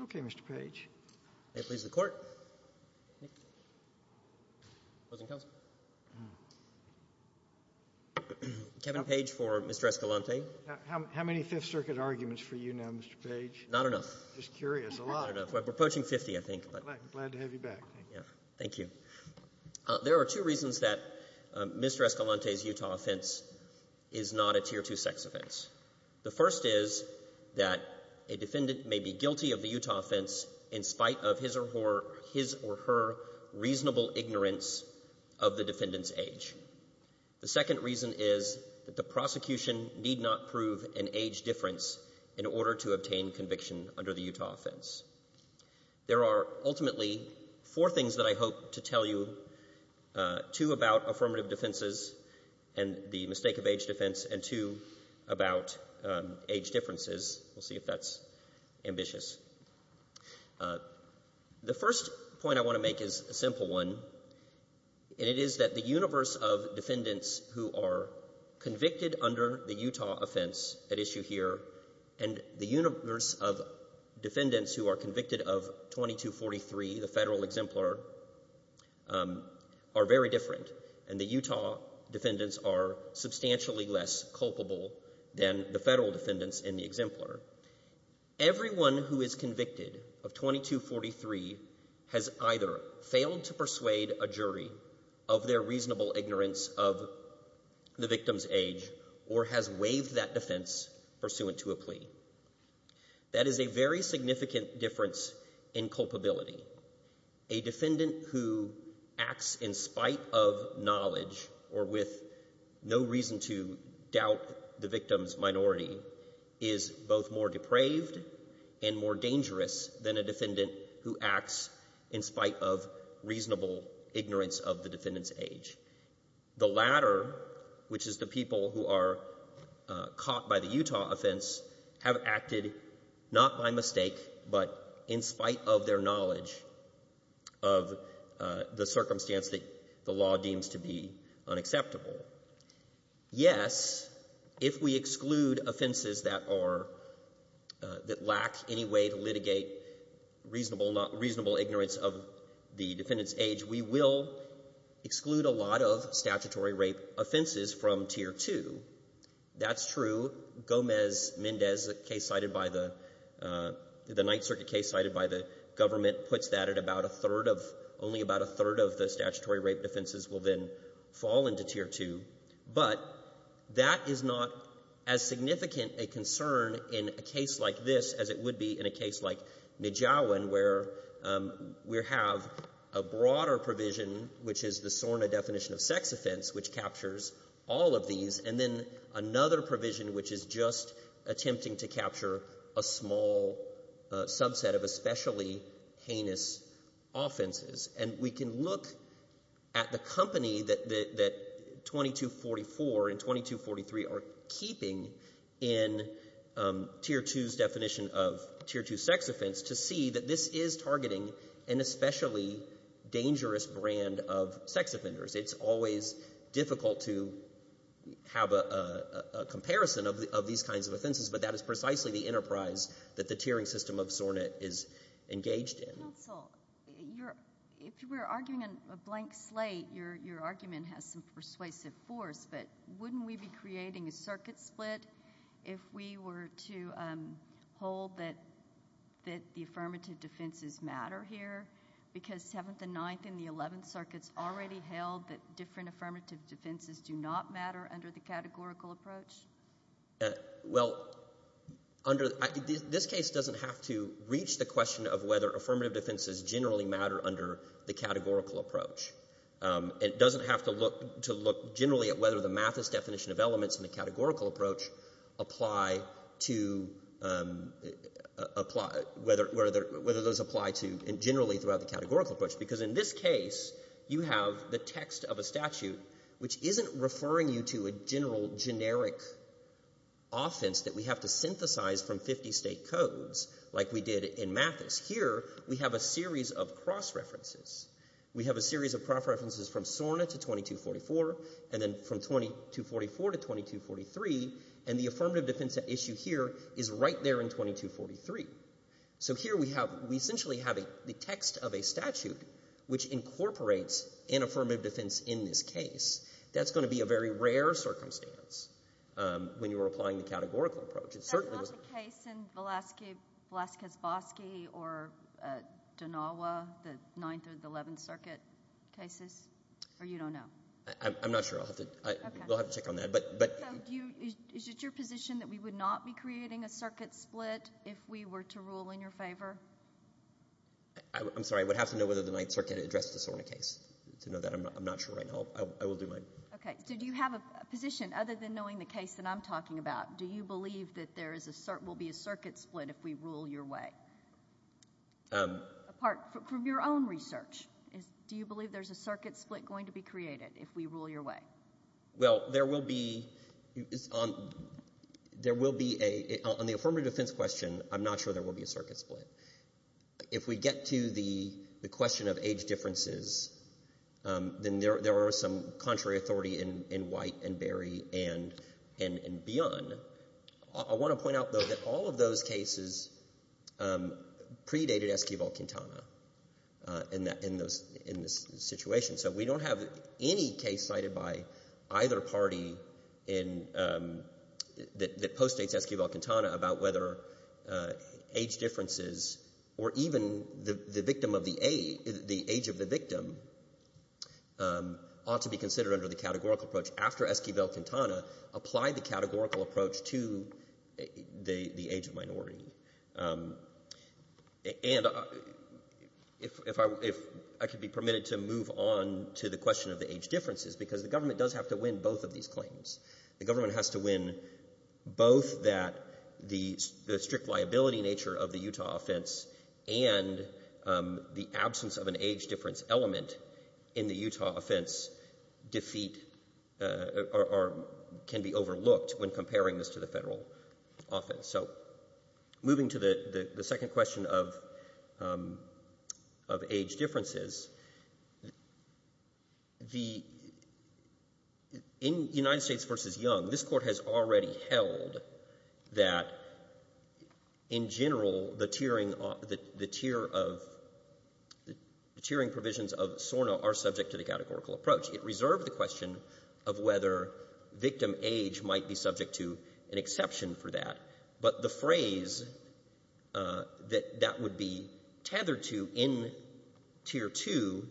Okay, Mr. Page. May it please the Court. Kevin Page for Mr. Escalante. How many Fifth Circuit arguments for you now, Mr. Page? Mr. Page Not enough. Mr. Escalante Just curious. A lot. Mr. Page Not enough. We're approaching 50, I think. Mr. Escalante Glad to have you back. Thank you. Mr. Page Thank you. There are two reasons that Mr. Escalante's Utah offense is not a Tier 2 sex offense. The first is that a defendant may be guilty of the Utah offense in spite of his or her reasonable ignorance of the defendant's age. The second reason is that the prosecution need not prove an age difference in order to obtain conviction under the Utah offense. There are ultimately four things that I hope to tell you, two about affirmative defenses and the mistake of age defense, and two about age differences. We'll see if that's ambitious. The first point I want to make is a simple one, and it is that the universe of defendants who are convicted under the Utah offense at issue here and the universe of defendants who are convicted of 2243, the Federal Exemplar, are very different. And the Utah defendants are substantially less culpable than the Federal defendants in the Exemplar. Everyone who is convicted of 2243 has either failed to persuade a jury of their reasonable ignorance of the victim's age or has waived that defense pursuant to a plea. That is a very significant difference in culpability. A defendant who acts in spite of knowledge or with no reason to doubt the victim's minority is both more depraved and more dangerous than a defendant who acts in spite of reasonable ignorance of the defendant's age. The latter, which is the people who are caught by the Utah offense, have acted not by mistake but in spite of their knowledge of the circumstance that the law deems to be unacceptable. Yes, if we exclude offenses that are — that lack any way to litigate reasonable ignorance of the defendant's age, we will exclude a lot of statutory rape offenses from Tier 2. That's true. And we can look at the company that 2244 and 2243 are keeping in Tier 2's definition of Tier 2 sex offense to see that this is targeting an especially dangerous brand of sex offenders. It's always difficult to have a comparison of these kinds of offenses, but that is precisely the enterprise that the tiering system of Sornet is engaged in. Counsel, if we're arguing a blank slate, your argument has some persuasive force, but wouldn't we be creating a circuit split if we were to hold that the affirmative defenses matter here? Because 7th and 9th and the 11th circuits already held that different affirmative defenses do not matter under the categorical approach? Well, under — this case doesn't have to reach the question of whether affirmative defenses generally matter under the categorical approach. And it doesn't have to look generally at whether the Mathis definition of elements in the categorical approach apply to — whether those apply to generally throughout the categorical approach. Because in this case, you have the text of a statute, which isn't referring you to a general generic offense that we have to synthesize from 50-state codes like we did in Mathis. Here, we have a series of cross-references. We have a series of cross-references from Sornet to 2244 and then from 2244 to 2243, and the affirmative defense at issue here is right there in 2243. So here we have — we essentially have the text of a statute, which incorporates an affirmative defense in this case. That's going to be a very rare circumstance when you're applying the categorical approach. Is that not the case in Velazquez-Vosky or Donawa, the Ninth and Eleventh Circuit cases? Or you don't know? I'm not sure. We'll have to check on that. So is it your position that we would not be creating a circuit split if we were to rule in your favor? I'm sorry. I would have to know whether the Ninth Circuit addressed the Sornet case to know that. I'm not sure right now. I will do my — Okay. So do you have a position, other than knowing the case that I'm talking about? Do you believe that there will be a circuit split if we rule your way? Apart from your own research, do you believe there's a circuit split going to be created if we rule your way? Well, there will be — on the affirmative defense question, I'm not sure there will be a circuit split. If we get to the question of age differences, then there are some contrary authority in White and Berry and beyond. I want to point out, though, that all of those cases predated Esquivel-Quintana in this situation. So we don't have any case cited by either party that postdates Esquivel-Quintana about whether age differences or even the age of the victim ought to be considered under the categorical approach after Esquivel-Quintana applied the categorical approach to the age of minority. And if I could be permitted to move on to the question of the age differences, because the government does have to win both of these claims. The government has to win both that the strict liability nature of the Utah offense and the absence of an age difference element in the Utah offense defeat — or can be overlooked when comparing this to the Federal offense. So moving to the second question of age differences, the — in United States v. Young, this Court has already held that, in general, the tiering — the tier of — the tiering provisions of SORNA are subject to the categorical approach. It reserved the question of whether victim age might be subject to an exception for that. But the phrase that that would be tethered to in Tier 2,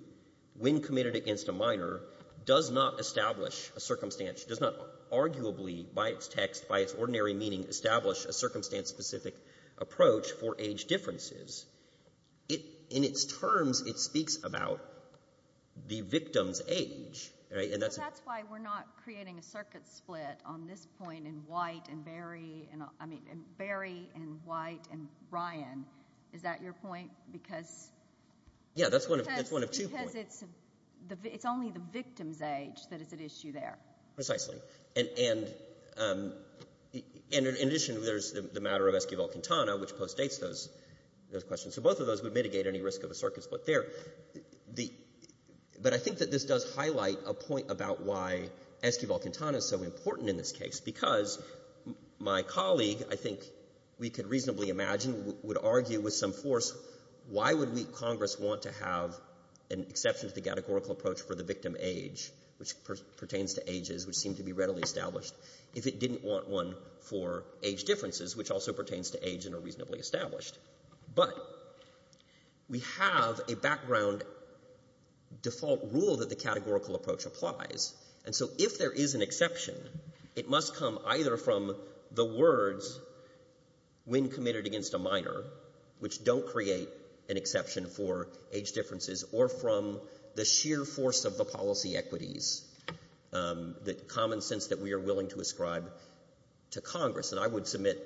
when committed against a minor, does not establish a circumstance — does not arguably, by its text, by its ordinary meaning, establish a circumstance-specific approach for age differences. In its terms, it speaks about the victim's age, right? And that's — But that's why we're not creating a circuit split on this point in White and Berry — I mean, in Berry and White and Ryan. Is that your point? Because — Yeah, that's one of two points. Because it's only the victim's age that is at issue there. Precisely. And — and in addition, there's the matter of Esquivel-Quintana, which postdates those — those questions. So both of those would mitigate any risk of a circuit split there. The — but I think that this does highlight a point about why Esquivel-Quintana is so important in this case, because my colleague, I think we could reasonably imagine, would argue with some force, why would we, Congress, want to have an exception to the categorical approach for the victim age, which pertains to ages, which seem to be readily established, if it didn't want one for age differences, which also pertains to age and are reasonably established? But we have a background default rule that the categorical approach applies. And so if there is an exception, it must come either from the words when committed against a minor, which don't create an exception for age differences, or from the sheer force of the policy equities, the common sense that we are willing to ascribe to Congress. And I would submit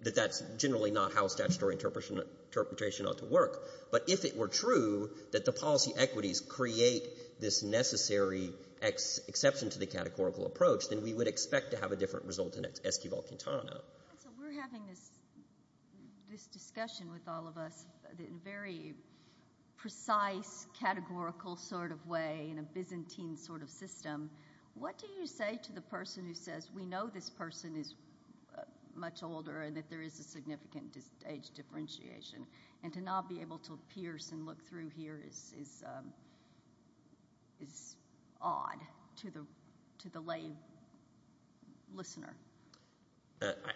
that that's generally not how statutory interpretation ought to work. But if it were true that the policy equities create this necessary exception to the categorical approach, then we would expect to have a different result in Esquivel-Quintana. We're having this discussion with all of us in a very precise, categorical sort of way, in a Byzantine sort of system. What do you say to the person who says, we know this person is much older and that there is a significant age differentiation, and to not be able to pierce and look through here is odd to the lay listener?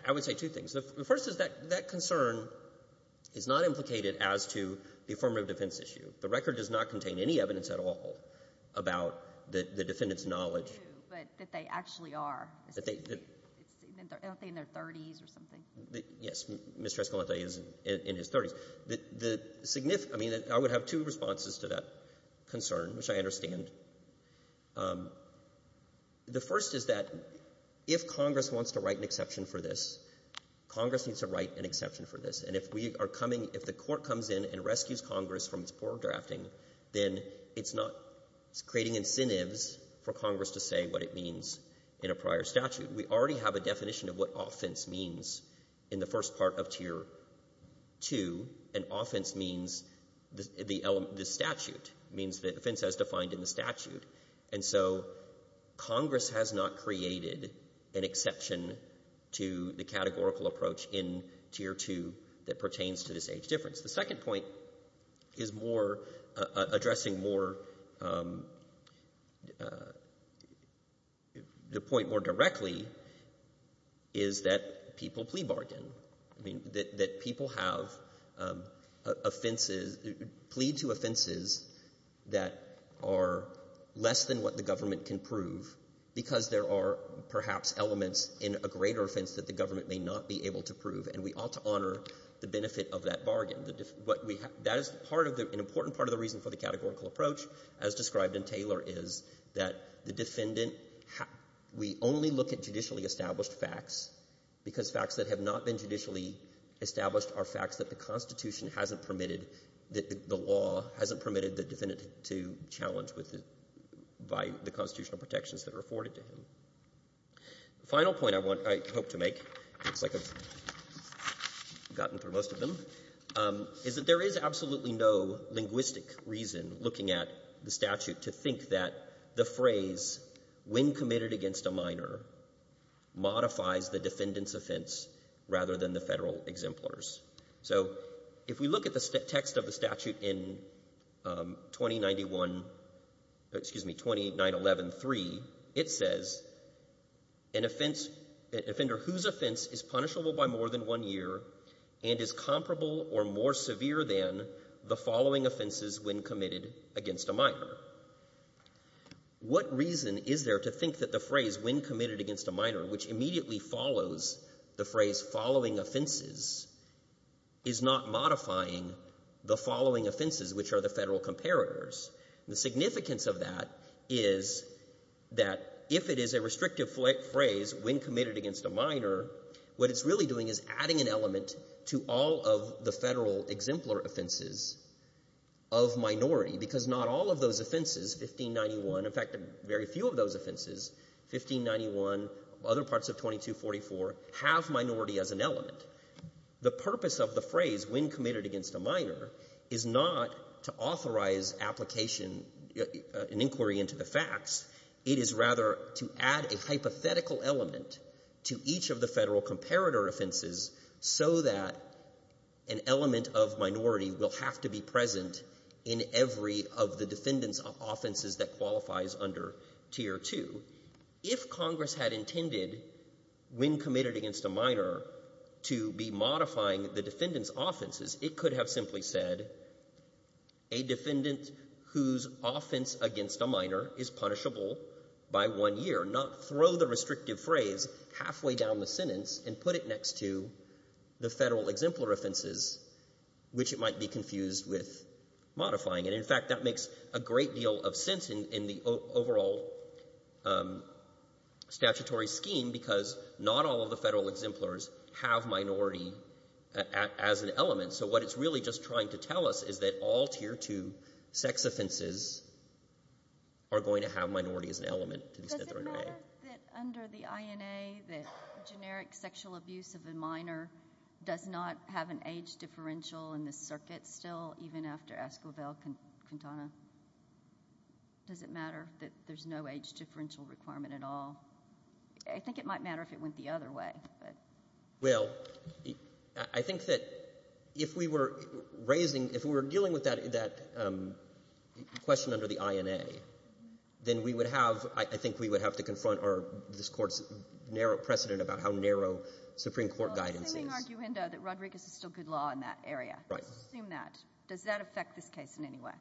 I would say two things. The first is that that concern is not implicated as to the affirmative defense issue. The record does not contain any evidence at all about the defendant's knowledge. But that they actually are. Aren't they in their 30s or something? Yes. Mr. Escalante is in his 30s. The significant — I mean, I would have two responses to that concern, which I understand. The first is that if Congress wants to write an exception for this, Congress needs to write an exception for this. And if we are coming — if the Court comes in and rescues Congress from its poor drafting, then it's not creating incentives for Congress to say what it means in a prior statute. We already have a definition of what offense means in the first part of Tier 2. And offense means the statute. It means the offense as defined in the statute. And so Congress has not created an exception to the categorical approach in Tier 2 that pertains to this age difference. The second point is more — addressing more — the point more directly is that people plea bargain. I mean, that people have offenses — plea to offenses that are less than what the government can prove because there are perhaps elements in a greater offense that the government may not be able to prove. And we ought to honor the benefit of that bargain. That is part of the — an important part of the reason for the categorical approach, as described in Taylor, is that the defendant — we only look at judicially established facts because facts that have not been judicially established are facts that the Constitution hasn't permitted — the law hasn't permitted the defendant to challenge with — by the constitutional protections that are afforded to him. The final point I want — I hope to make, looks like I've gotten through most of them, is that there is absolutely no linguistic reason looking at the statute to think that the phrase, when committed against a minor, modifies the defendant's offense rather than the Federal exemplars. So if we look at the text of the statute in 2091 — excuse me, 2911.3, it says, an offense — an offender whose offense is punishable by more than one year and is comparable or more severe than the following offenses when committed against a minor. What reason is there to think that the phrase, when committed against a minor, which immediately follows the phrase, following offenses, is not modifying the following offenses, which are the Federal comparators? The significance of that is that if it is a restrictive phrase, when committed against a minor, what it's really doing is adding an element to all of the Federal exemplar offenses of minority, because not all of those offenses, 1591 — in fact, very few of those offenses, 1591, other parts of 2244, have minority as an element. The purpose of the phrase, when committed against a minor, is not to authorize application and inquiry into the facts. It is rather to add a hypothetical element to each of the Federal comparator offenses so that an element of minority will have to be present in every of the defendant's offenses that qualifies under Tier 2. If Congress had intended, when committed against a minor, to be modifying the defendant's offenses, it could have simply said, a defendant whose offense against a minor is punishable by one year, not throw the restrictive phrase halfway down the sentence and put it next to the Federal exemplar offenses, which it might be confused with modifying. And, in fact, that makes a great deal of sense in the overall statutory scheme because not all of the Federal exemplars have minority as an element. So what it's really just trying to tell us is that all Tier 2 sex offenses are going to have minority as an element to the Snyder and Wray. Does it matter that under the INA, the generic sexual abuse of a minor does not have an age differential in the circuit still, even after Esquivel-Quintana? Does it matter that there's no age differential requirement at all? I think it might matter if it went the other way. Well, I think that if we were raising, if we were dealing with that question under the INA, then we would have, I think we would have to confront this Court's narrow precedent about how narrow Supreme Court guidance is. Well, it's a clinging arguendo that Rodriguez is still good law in that area. Let's assume that. Does that affect this case in any way?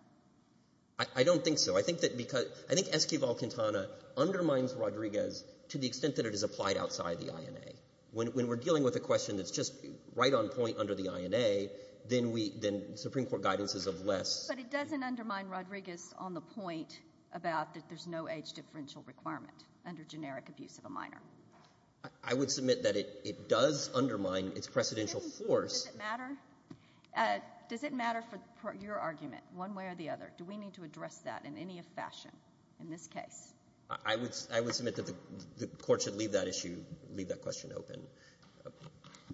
I don't think so. I think that because, I think Esquivel-Quintana undermines Rodriguez to the extent that it is applied outside the INA. When we're dealing with a question that's just right on point under the INA, then we, then Supreme Court guidance is of less. But it doesn't undermine Rodriguez on the point about that there's no age differential requirement under generic abuse of a minor. I would submit that it does undermine its precedential force. Does it matter? Does it matter for your argument one way or the other? Do we need to address that in any fashion in this case? I would submit that the Court should leave that issue, leave that question open. All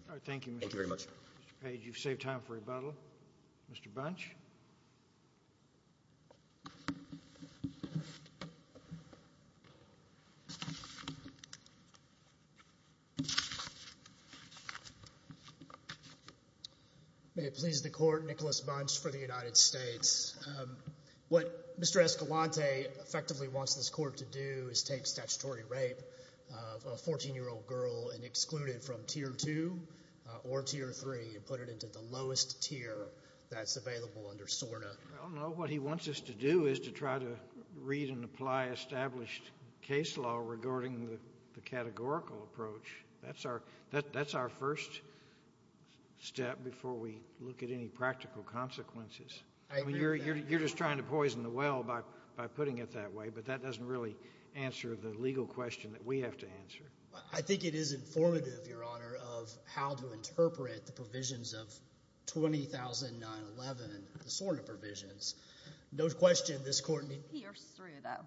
right. Thank you, Mr. Page. Thank you very much. You've saved time for rebuttal. Mr. Bunch? May it please the Court, Nicholas Bunch for the United States. What Mr. Escalante effectively wants this Court to do is take statutory rape of a 14-year-old girl and exclude it from Tier 2 or Tier 3 and put it into the lowest tier that's available to the United States. I don't know. What he wants us to do is to try to read and apply established case law regarding the categorical approach. That's our first step before we look at any practical consequences. I agree with that. You're just trying to poison the well by putting it that way, but that doesn't really answer the legal question that we have to answer. I think it is informative, Your Honor, of how to interpret the provisions of 20911, the SORNA provisions. No question this Court needs to— Pierce through, though.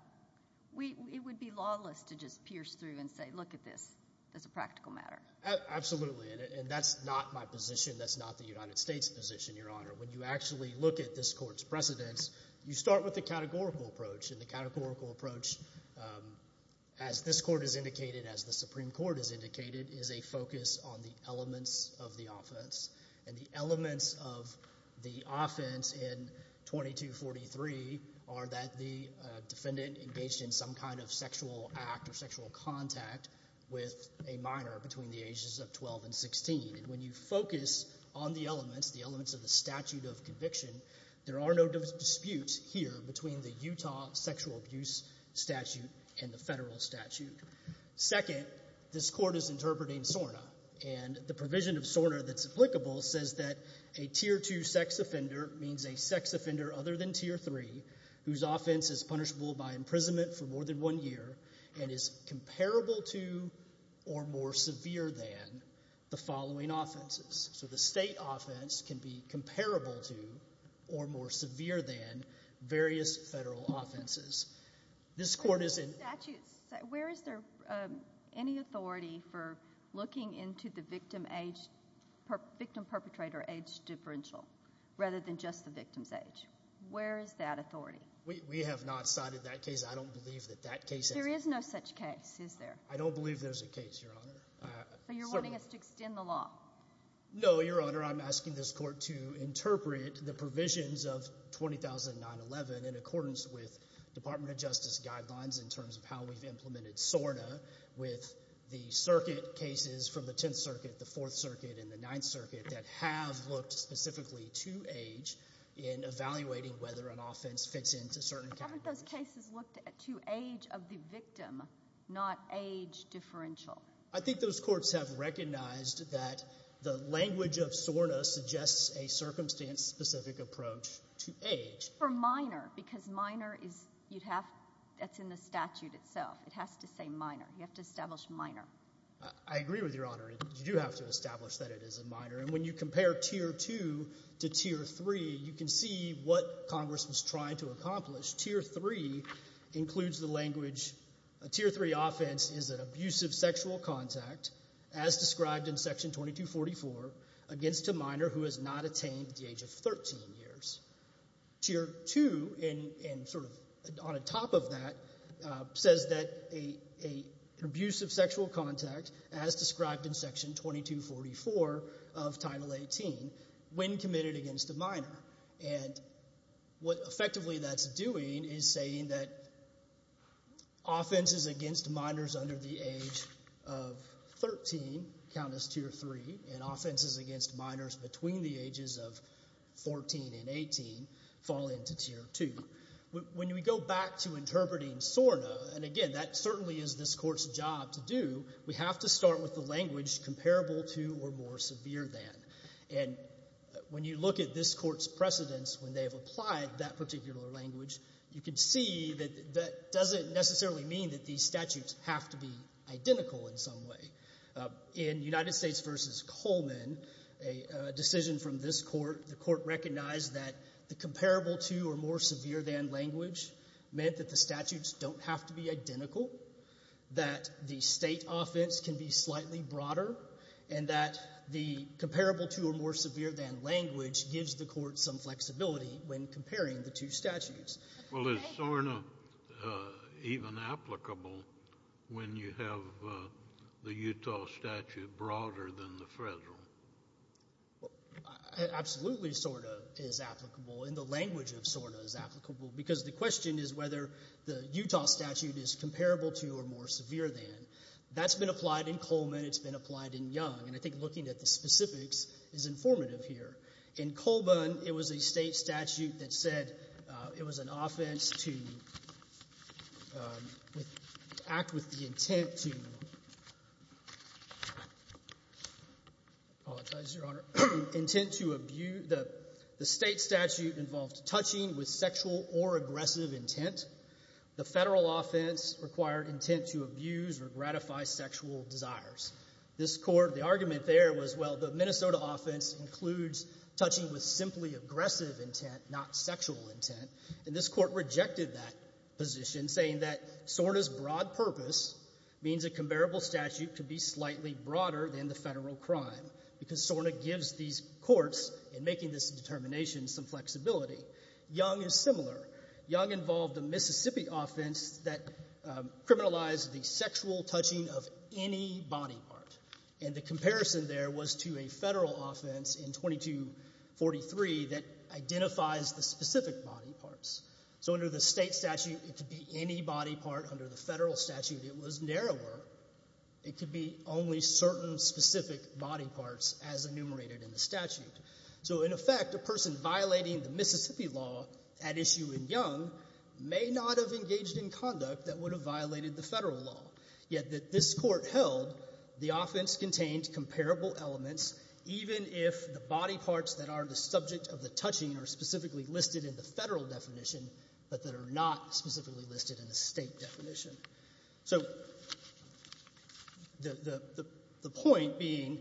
It would be lawless to just pierce through and say, look at this. This is a practical matter. Absolutely, and that's not my position. That's not the United States' position, Your Honor. When you actually look at this Court's precedents, you start with the categorical approach, and the categorical approach, as this Court has indicated, as the Supreme Court has indicated, is a focus on the elements of the offense, and the elements of the offense in 2243 are that the defendant engaged in some kind of sexual act or sexual contact with a minor between the ages of 12 and 16. When you focus on the elements, the elements of the statute of conviction, there are no disputes here between the Utah sexual abuse statute and the federal statute. Second, this Court is interpreting SORNA, and the provision of SORNA that's applicable says that a Tier 2 sex offender means a sex offender other than Tier 3 whose offense is punishable by imprisonment for more than one year and is comparable to or more severe than the following offenses. So the state offense can be comparable to or more severe than various federal offenses. This Court is in— Where is there any authority for looking into the victim age—victim perpetrator age differential rather than just the victim's age? Where is that authority? We have not cited that case. I don't believe that that case— There is no such case, is there? I don't believe there's a case, Your Honor. So you're wanting us to extend the law? No, Your Honor. I'm asking this Court to interpret the provisions of 20,911 in accordance with Department of Justice guidelines in terms of how we've implemented SORNA with the circuit cases from the Tenth Circuit, the Fourth Circuit, and the Ninth Circuit that have looked specifically to age in evaluating whether an offense fits into certain categories. Haven't those cases looked to age of the victim, not age differential? I think those courts have recognized that the language of SORNA suggests a circumstance-specific approach to age. For minor, because minor is—you'd have—that's in the statute itself. It has to say minor. You have to establish minor. I agree with Your Honor. You do have to establish that it is a minor. And when you compare Tier 2 to Tier 3, you can see what Congress was trying to accomplish. Tier 3 includes the language—Tier 3 offense is an abusive sexual contact, as described in Section 2244, against a minor who has not attained the age of 13 years. Tier 2, on top of that, says that an abusive sexual contact, as described in Section 2244 of Title 18, when committed against a minor. And what effectively that's doing is saying that offenses against minors under the age of 13 count as Tier 3, and offenses against minors between the ages of 14 and 18 fall into Tier 2. When we go back to interpreting SORNA—and again, that certainly is this Court's job to do— we have to start with the language comparable to or more severe than. And when you look at this Court's precedents, when they have applied that particular language, you can see that that doesn't necessarily mean that these statutes have to be identical in some way. In United States v. Coleman, a decision from this Court, the Court recognized that the comparable to or more severe than language meant that the statutes don't have to be identical, that the state offense can be slightly broader, and that the comparable to or more severe than language gives the Court some flexibility when comparing the two statutes. Well, is SORNA even applicable when you have the Utah statute broader than the federal? Absolutely SORNA is applicable, and the language of SORNA is applicable, because the question is whether the Utah statute is comparable to or more severe than. That's been applied in Coleman. It's been applied in Young. And I think looking at the specifics is informative here. In Coleman, it was a state statute that said it was an offense to act with the intent to— The federal offense required intent to abuse or gratify sexual desires. This Court, the argument there was, well, the Minnesota offense includes touching with simply aggressive intent, not sexual intent, and this Court rejected that position, saying that SORNA's broad purpose means a comparable statute could be slightly broader than the federal crime, because SORNA gives these courts, in making this determination, some flexibility. Young is similar. Young involved a Mississippi offense that criminalized the sexual touching of any body part. And the comparison there was to a federal offense in 2243 that identifies the specific body parts. So under the state statute, it could be any body part. Under the federal statute, it was narrower. It could be only certain specific body parts as enumerated in the statute. So in effect, a person violating the Mississippi law at issue in Young may not have engaged in conduct that would have violated the federal law, yet that this Court held the offense contained comparable elements, even if the body parts that are the subject of the touching are specifically listed in the federal definition but that are not specifically listed in the state definition. So the point being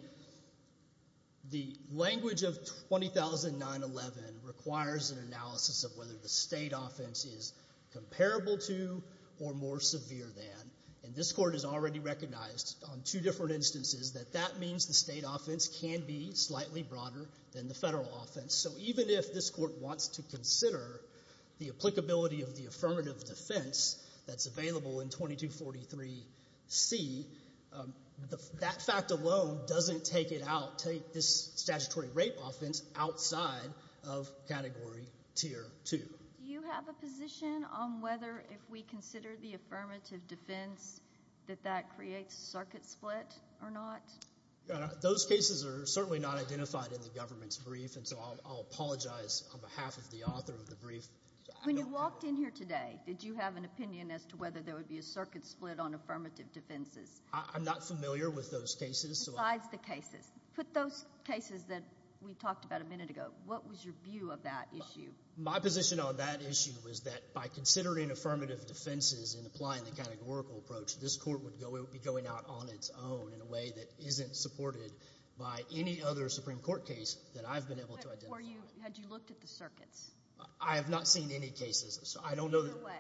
the language of 20,911 requires an analysis of whether the state offense is comparable to or more severe than, and this Court has already recognized on two different instances that that means the state offense can be slightly broader than the federal offense. So even if this Court wants to consider the applicability of the affirmative defense that's available in 2243C, that fact alone doesn't take it out, take this statutory rape offense outside of Category Tier 2. Do you have a position on whether if we consider the affirmative defense that that creates circuit split or not? Those cases are certainly not identified in the government's brief, and so I'll apologize on behalf of the author of the brief. When you walked in here today, did you have an opinion as to whether there would be a circuit split on affirmative defenses? I'm not familiar with those cases. Besides the cases, put those cases that we talked about a minute ago, what was your view of that issue? My position on that issue was that by considering affirmative defenses and applying the categorical approach, this Court would be going out on its own in a way that isn't supported by any other Supreme Court case that I've been able to identify. Had you looked at the circuits? I have not seen any cases. Either way.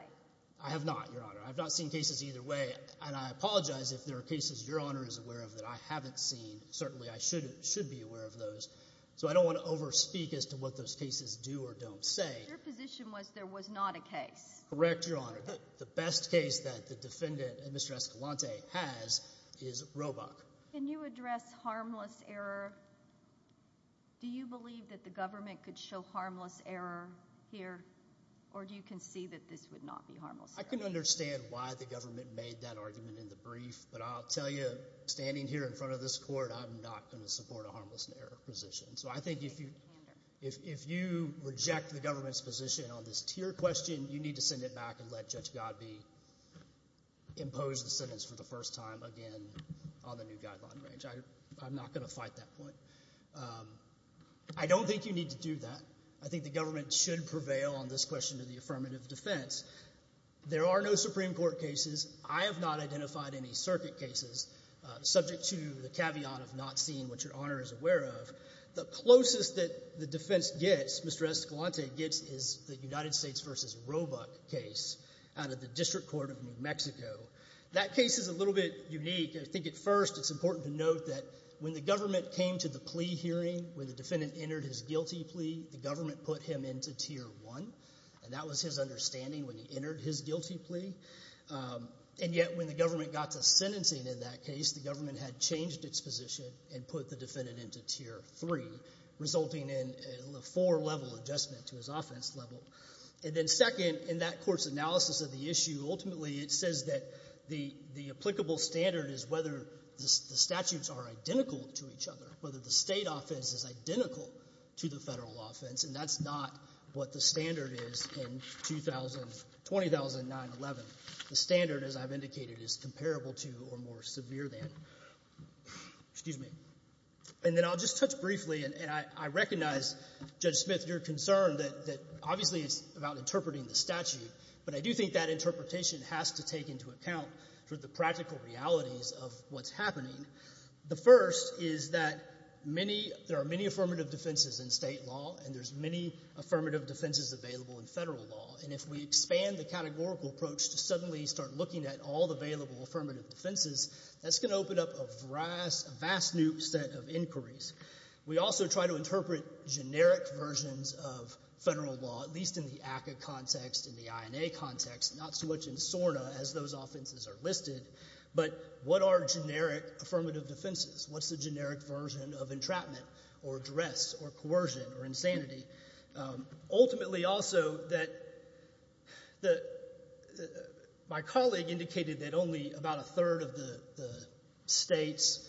I have not, Your Honor. I have not seen cases either way, and I apologize if there are cases Your Honor is aware of that I haven't seen. Certainly I should be aware of those. So I don't want to overspeak as to what those cases do or don't say. Your position was there was not a case. Correct, Your Honor. The best case that the defendant, Mr. Escalante, has is Roebuck. Can you address harmless error? Do you believe that the government could show harmless error here, or do you concede that this would not be harmless error? I can understand why the government made that argument in the brief, but I'll tell you, standing here in front of this Court, I'm not going to support a harmless error position. So I think if you reject the government's position on this tier question, you need to send it back and let Judge Godbee impose the sentence for the first time again on the new guideline range. I'm not going to fight that point. I don't think you need to do that. I think the government should prevail on this question of the affirmative defense. There are no Supreme Court cases. I have not identified any circuit cases, subject to the caveat of not seeing what Your Honor is aware of. The closest that the defense gets, Mr. Escalante gets, is the United States v. Roebuck case out of the District Court of New Mexico. That case is a little bit unique. I think at first it's important to note that when the government came to the plea hearing, when the defendant entered his guilty plea, the government put him into Tier 1, and that was his understanding when he entered his guilty plea. And yet when the government got to sentencing in that case, the government had changed its position and put the defendant into Tier 3, resulting in a four-level adjustment to his offense level. And then second, in that Court's analysis of the issue, ultimately it says that the applicable standard is whether the statutes are identical to each other, whether the State offense is identical to the Federal offense. And that's not what the standard is in 2009-11. The standard, as I've indicated, is comparable to or more severe than. Excuse me. And then I'll just touch briefly, and I recognize, Judge Smith, your concern that obviously it's about interpreting the statute. But I do think that interpretation has to take into account the practical realities of what's happening. The first is that there are many affirmative defenses in State law, and there's many affirmative defenses available in Federal law. And if we expand the categorical approach to suddenly start looking at all the available affirmative defenses, that's going to open up a vast new set of inquiries. We also try to interpret generic versions of Federal law, at least in the ACCA context, in the INA context, not so much in SORNA as those offenses are listed, but what are generic affirmative defenses? What's the generic version of entrapment or duress or coercion or insanity? Ultimately also, my colleague indicated that only about a third of the States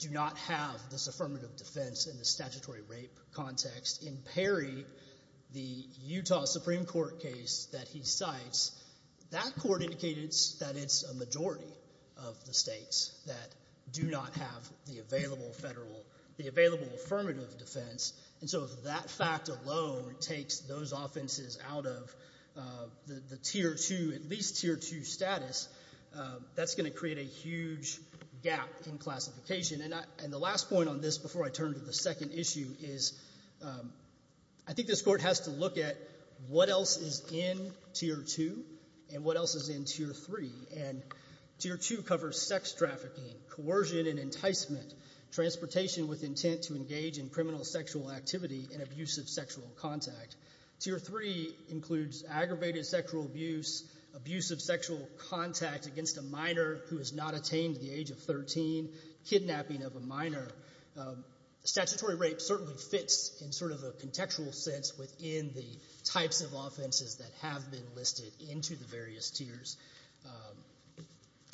do not have this affirmative defense in the statutory rape context. In Perry, the Utah Supreme Court case that he cites, that court indicated that it's a majority of the States that do not have the available affirmative defense. And so if that fact alone takes those offenses out of the Tier 2, at least Tier 2 status, that's going to create a huge gap in classification. And the last point on this before I turn to the second issue is I think this Court has to look at what else is in Tier 2 and what else is in Tier 3. And Tier 2 covers sex trafficking, coercion and enticement, transportation with intent to engage in criminal sexual activity and abusive sexual contact. Tier 3 includes aggravated sexual abuse, abusive sexual contact against a minor who has not attained the age of 13, kidnapping of a minor. Statutory rape certainly fits in sort of a contextual sense within the types of offenses that have been listed into the various tiers.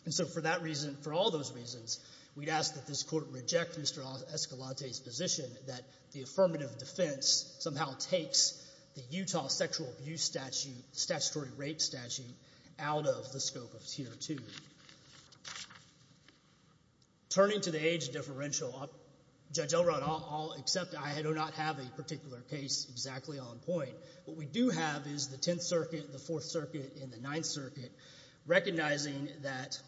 And so for that reason, for all those reasons, we'd ask that this Court reject Mr. Escalante's position that the affirmative defense somehow takes the Utah sexual abuse statute, statutory rape statute, out of the scope of Tier 2. Turning to the age differential, Judge Elrod, I'll accept I do not have a particular case exactly on point. What we do have is the Tenth Circuit, the Fourth Circuit and the Ninth Circuit recognizing that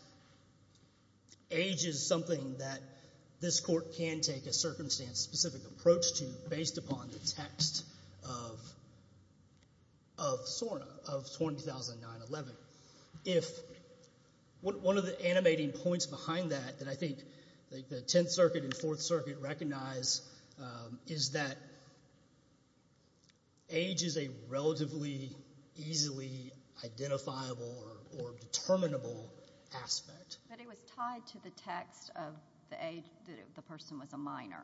age is something that this Court can take a circumstance-specific approach to based upon the text of SORNA, of 2009-11. If one of the animating points behind that that I think the Tenth Circuit and Fourth Circuit recognize is that age is a relatively easily identifiable or determinable aspect. But it was tied to the text of the age that the person was a minor.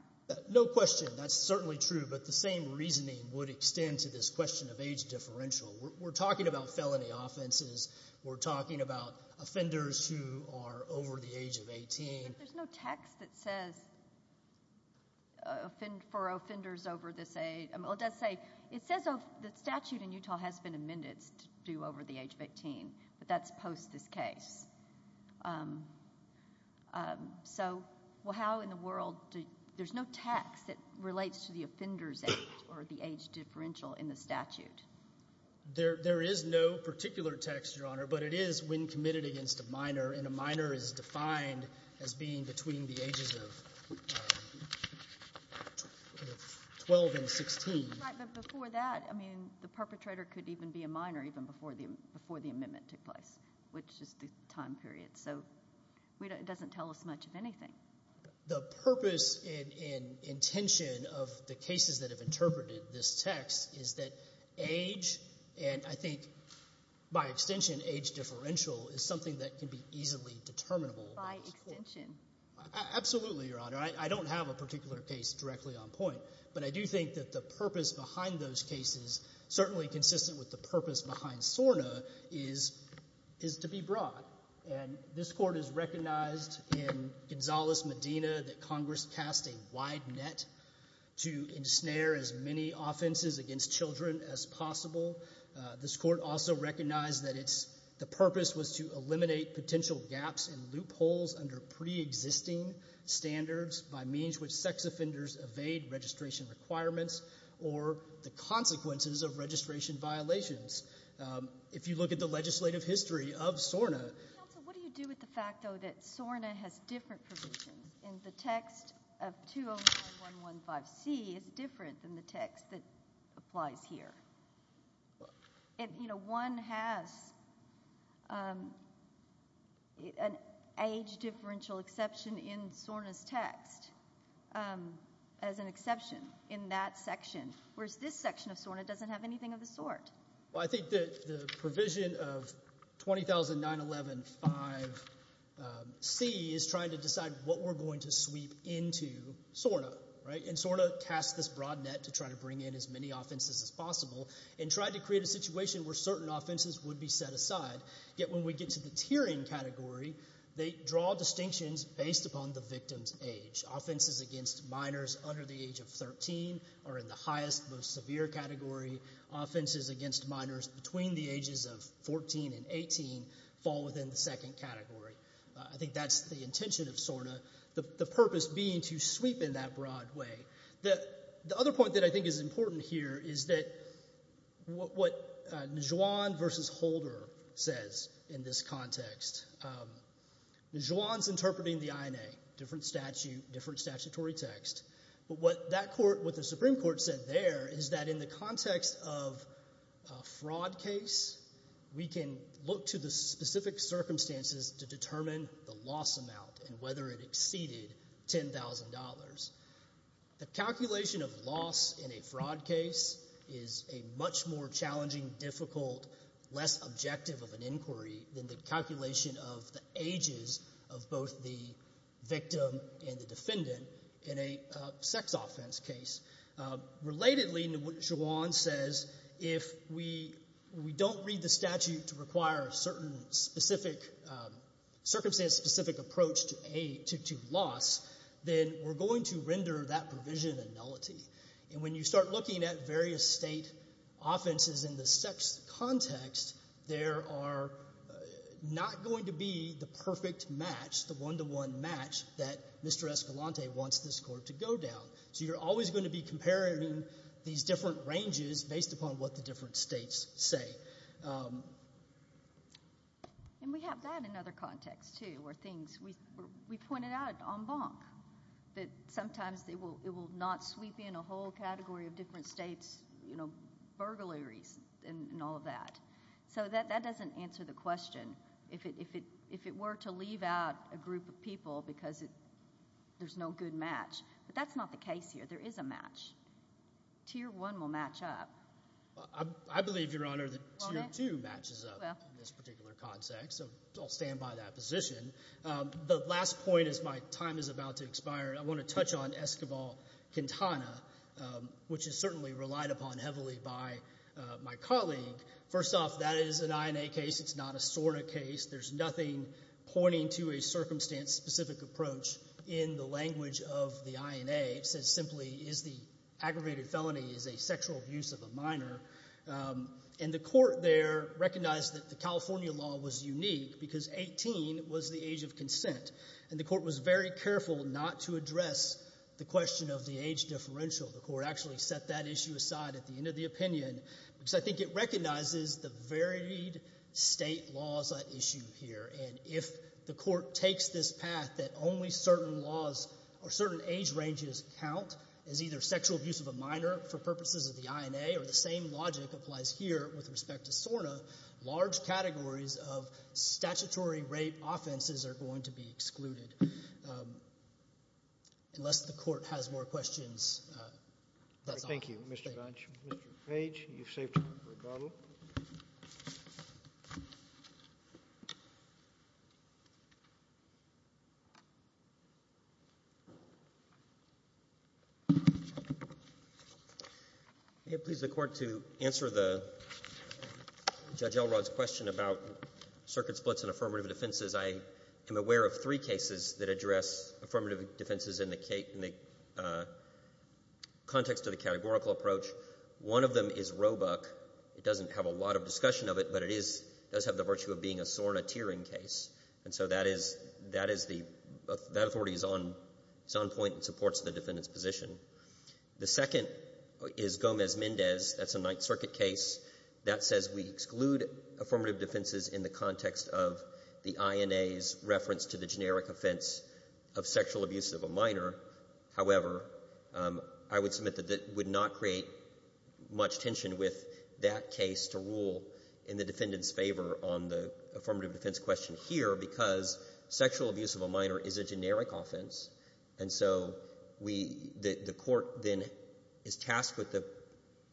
No question. That's certainly true. But the same reasoning would extend to this question of age differential. We're talking about felony offenses. We're talking about offenders who are over the age of 18. But there's no text that says for offenders over this age. It says the statute in Utah has been amended to do over the age of 18, but that's post this case. So how in the world do you— there's no text that relates to the Offenders Act or the age differential in the statute. There is no particular text, Your Honor, but it is when committed against a minor, and a minor is defined as being between the ages of 12 and 16. Right, but before that, I mean, the perpetrator could even be a minor even before the amendment took place, which is the time period. So it doesn't tell us much of anything. The purpose and intention of the cases that have interpreted this text is that age— and I think by extension age differential is something that can be easily determinable. By extension. Absolutely, Your Honor. I don't have a particular case directly on point, but I do think that the purpose behind those cases, certainly consistent with the purpose behind SORNA, is to be broad. And this Court has recognized in Gonzales-Medina that Congress cast a wide net to ensnare as many offenses against children as possible. This Court also recognized that the purpose was to eliminate potential gaps and loopholes under preexisting standards by means which sex offenders evade registration requirements or the consequences of registration violations. If you look at the legislative history of SORNA— Counsel, what do you do with the fact, though, that SORNA has different provisions and the text of 209-115C is different than the text that applies here? One has an age differential exception in SORNA's text as an exception in that section, whereas this section of SORNA doesn't have anything of the sort. Well, I think the provision of 209-115C is trying to decide what we're going to sweep into SORNA. And SORNA cast this broad net to try to bring in as many offenses as possible and tried to create a situation where certain offenses would be set aside. Yet when we get to the tiering category, they draw distinctions based upon the victim's age. Offenses against minors under the age of 13 are in the highest, most severe category. Offenses against minors between the ages of 14 and 18 fall within the second category. I think that's the intention of SORNA. The purpose being to sweep in that broad way. The other point that I think is important here is that what Njuan v. Holder says in this context, Njuan's interpreting the INA, different statute, different statutory text. But what the Supreme Court said there is that in the context of a fraud case, we can look to the specific circumstances to determine the loss amount and whether it exceeded $10,000. The calculation of loss in a fraud case is a much more challenging, difficult, less objective of an inquiry than the calculation of the ages of both the victim and the defendant in a sex offense case. Relatedly, Njuan says if we don't read the statute to require a circumstance-specific approach to loss, then we're going to render that provision a nullity. And when you start looking at various state offenses in the sex context, there are not going to be the perfect match, the one-to-one match, that Mr. Escalante wants this court to go down. So you're always going to be comparing these different ranges based upon what the different states say. And we have that in other contexts, too, where things – we pointed out on Bonk that sometimes it will not sweep in a whole category of different states, burglaries and all of that. So that doesn't answer the question if it were to leave out a group of people because there's no good match. But that's not the case here. There is a match. Tier 1 will match up. I believe, Your Honor, that Tier 2 matches up in this particular context, so I'll stand by that position. The last point as my time is about to expire, I want to touch on Esquivel-Quintana, which is certainly relied upon heavily by my colleague. First off, that is an INA case. It's not a SORNA case. There's nothing pointing to a circumstance-specific approach in the language of the INA. It says simply is the aggravated felony is a sexual abuse of a minor. And the court there recognized that the California law was unique because 18 was the age of consent, and the court was very careful not to address the question of the age differential. The court actually set that issue aside at the end of the opinion because I think it recognizes the varied state laws at issue here, and if the court takes this path that only certain laws or certain age ranges count as either sexual abuse of a minor for purposes of the INA or the same logic applies here with respect to SORNA, large categories of statutory rape offenses are going to be excluded. Unless the court has more questions, that's all. Thank you, Mr. Dodge. Mr. Page, you've saved time for rebuttal. May it please the Court to answer Judge Elrod's question about circuit splits and affirmative defenses. I am aware of three cases that address affirmative defenses in the context of the categorical approach. One of them is Roebuck. It doesn't have a lot of discussion of it, but it does have the virtue of being a SORNA tiering case. And so that authority is on point and supports the defendant's position. The second is Gomez-Mendez. That's a Ninth Circuit case. That says we exclude affirmative defenses in the context of the INA's reference to the generic offense of sexual abuse of a minor. However, I would submit that that would not create much tension with that case to rule in the defendant's favor on the affirmative defense question here because sexual abuse of a minor is a generic offense, and so the Court then is tasked with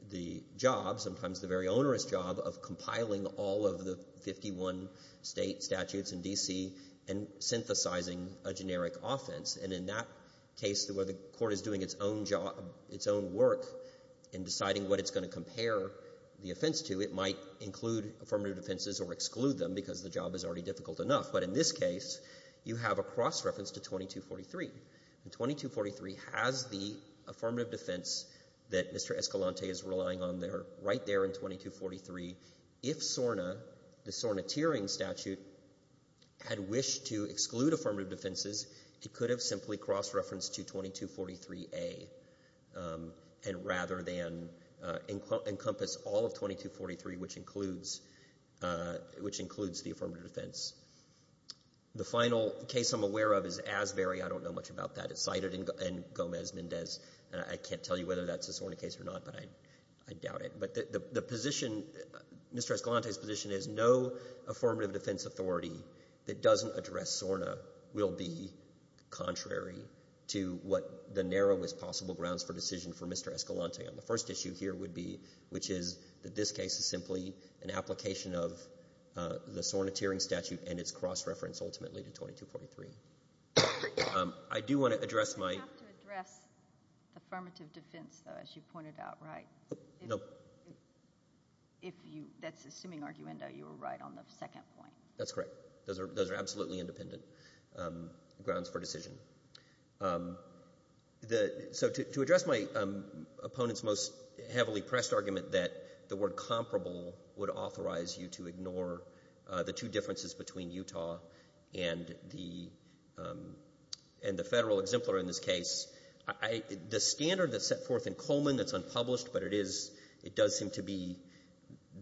the job, sometimes the very onerous job, of compiling all of the 51 state statutes in D.C. and synthesizing a generic offense. And in that case, where the Court is doing its own job, its own work in deciding what it's going to compare the offense to, it might include affirmative defenses or exclude them because the job is already difficult enough. But in this case, you have a cross-reference to 2243. And 2243 has the affirmative defense that Mr. Escalante is relying on right there in 2243. If SORNA, the SORNA tiering statute, had wished to exclude affirmative defenses, it could have simply cross-referenced to 2243A and rather than encompass all of 2243, which includes the affirmative defense. The final case I'm aware of is Asbury. I don't know much about that. It's cited in Gomez-Mendez. I can't tell you whether that's a SORNA case or not, but I doubt it. But Mr. Escalante's position is no affirmative defense authority that doesn't address SORNA will be contrary to what the narrowest possible grounds for decision for Mr. Escalante on the first issue here would be, which is that this case is simply an application of the SORNA tiering statute and its cross-reference ultimately to 2243. I do want to address my— You don't have to address the affirmative defense, though, as you pointed out, right? No. That's assuming, arguendo, you were right on the second point. That's correct. Those are absolutely independent grounds for decision. So to address my opponent's most heavily pressed argument that the word comparable would authorize you to ignore the two differences between Utah and the Federal exemplar in this case, the standard that's set forth in Coleman that's unpublished, but it does seem to be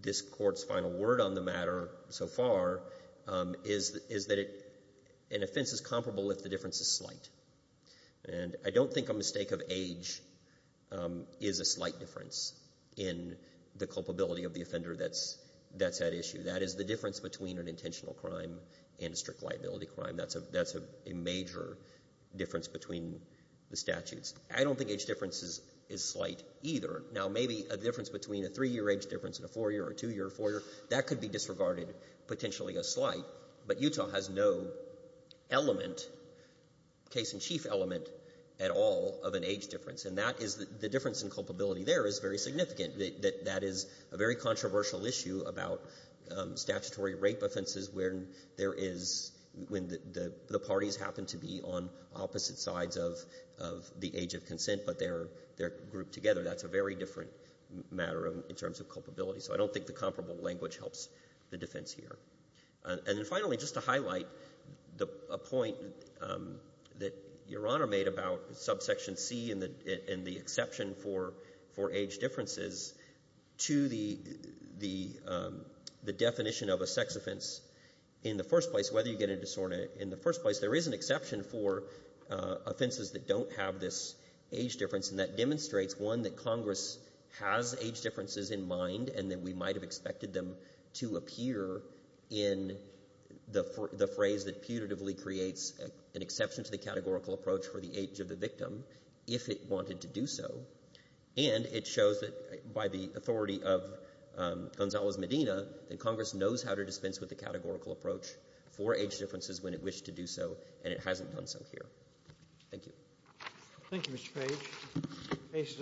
this Court's final word on the matter so far, is that an offense is comparable if the difference is slight. And I don't think a mistake of age is a slight difference in the culpability of the offender that's at issue. That is the difference between an intentional crime and a strict liability crime. That's a major difference between the statutes. I don't think age difference is slight either. Now, maybe a difference between a three-year age difference and a four-year or two-year or four-year, that could be disregarded potentially as slight, but Utah has no element, case-in-chief element, at all of an age difference. And that is the difference in culpability there is very significant. That is a very controversial issue about statutory rape offenses where there is when the parties happen to be on opposite sides of the age of consent, but they're grouped together. That's a very different matter in terms of culpability. So I don't think the comparable language helps the defense here. And then finally, just to highlight a point that Your Honor made about subsection C and the exception for age differences to the definition of a sex offense in the first place, whether you get a disorder in the first place, there is an exception for offenses that don't have this age difference, and that demonstrates, one, that Congress has age differences in mind and that we might have expected them to appear in the phrase that putatively creates an exception to the categorical approach for the age of the victim if it wanted to do so. And it shows that by the authority of Gonzalez-Medina, that Congress knows how to dispense with the categorical approach for age differences when it wished to do so, and it hasn't done so here. Thank you. Thank you, Mr. Page.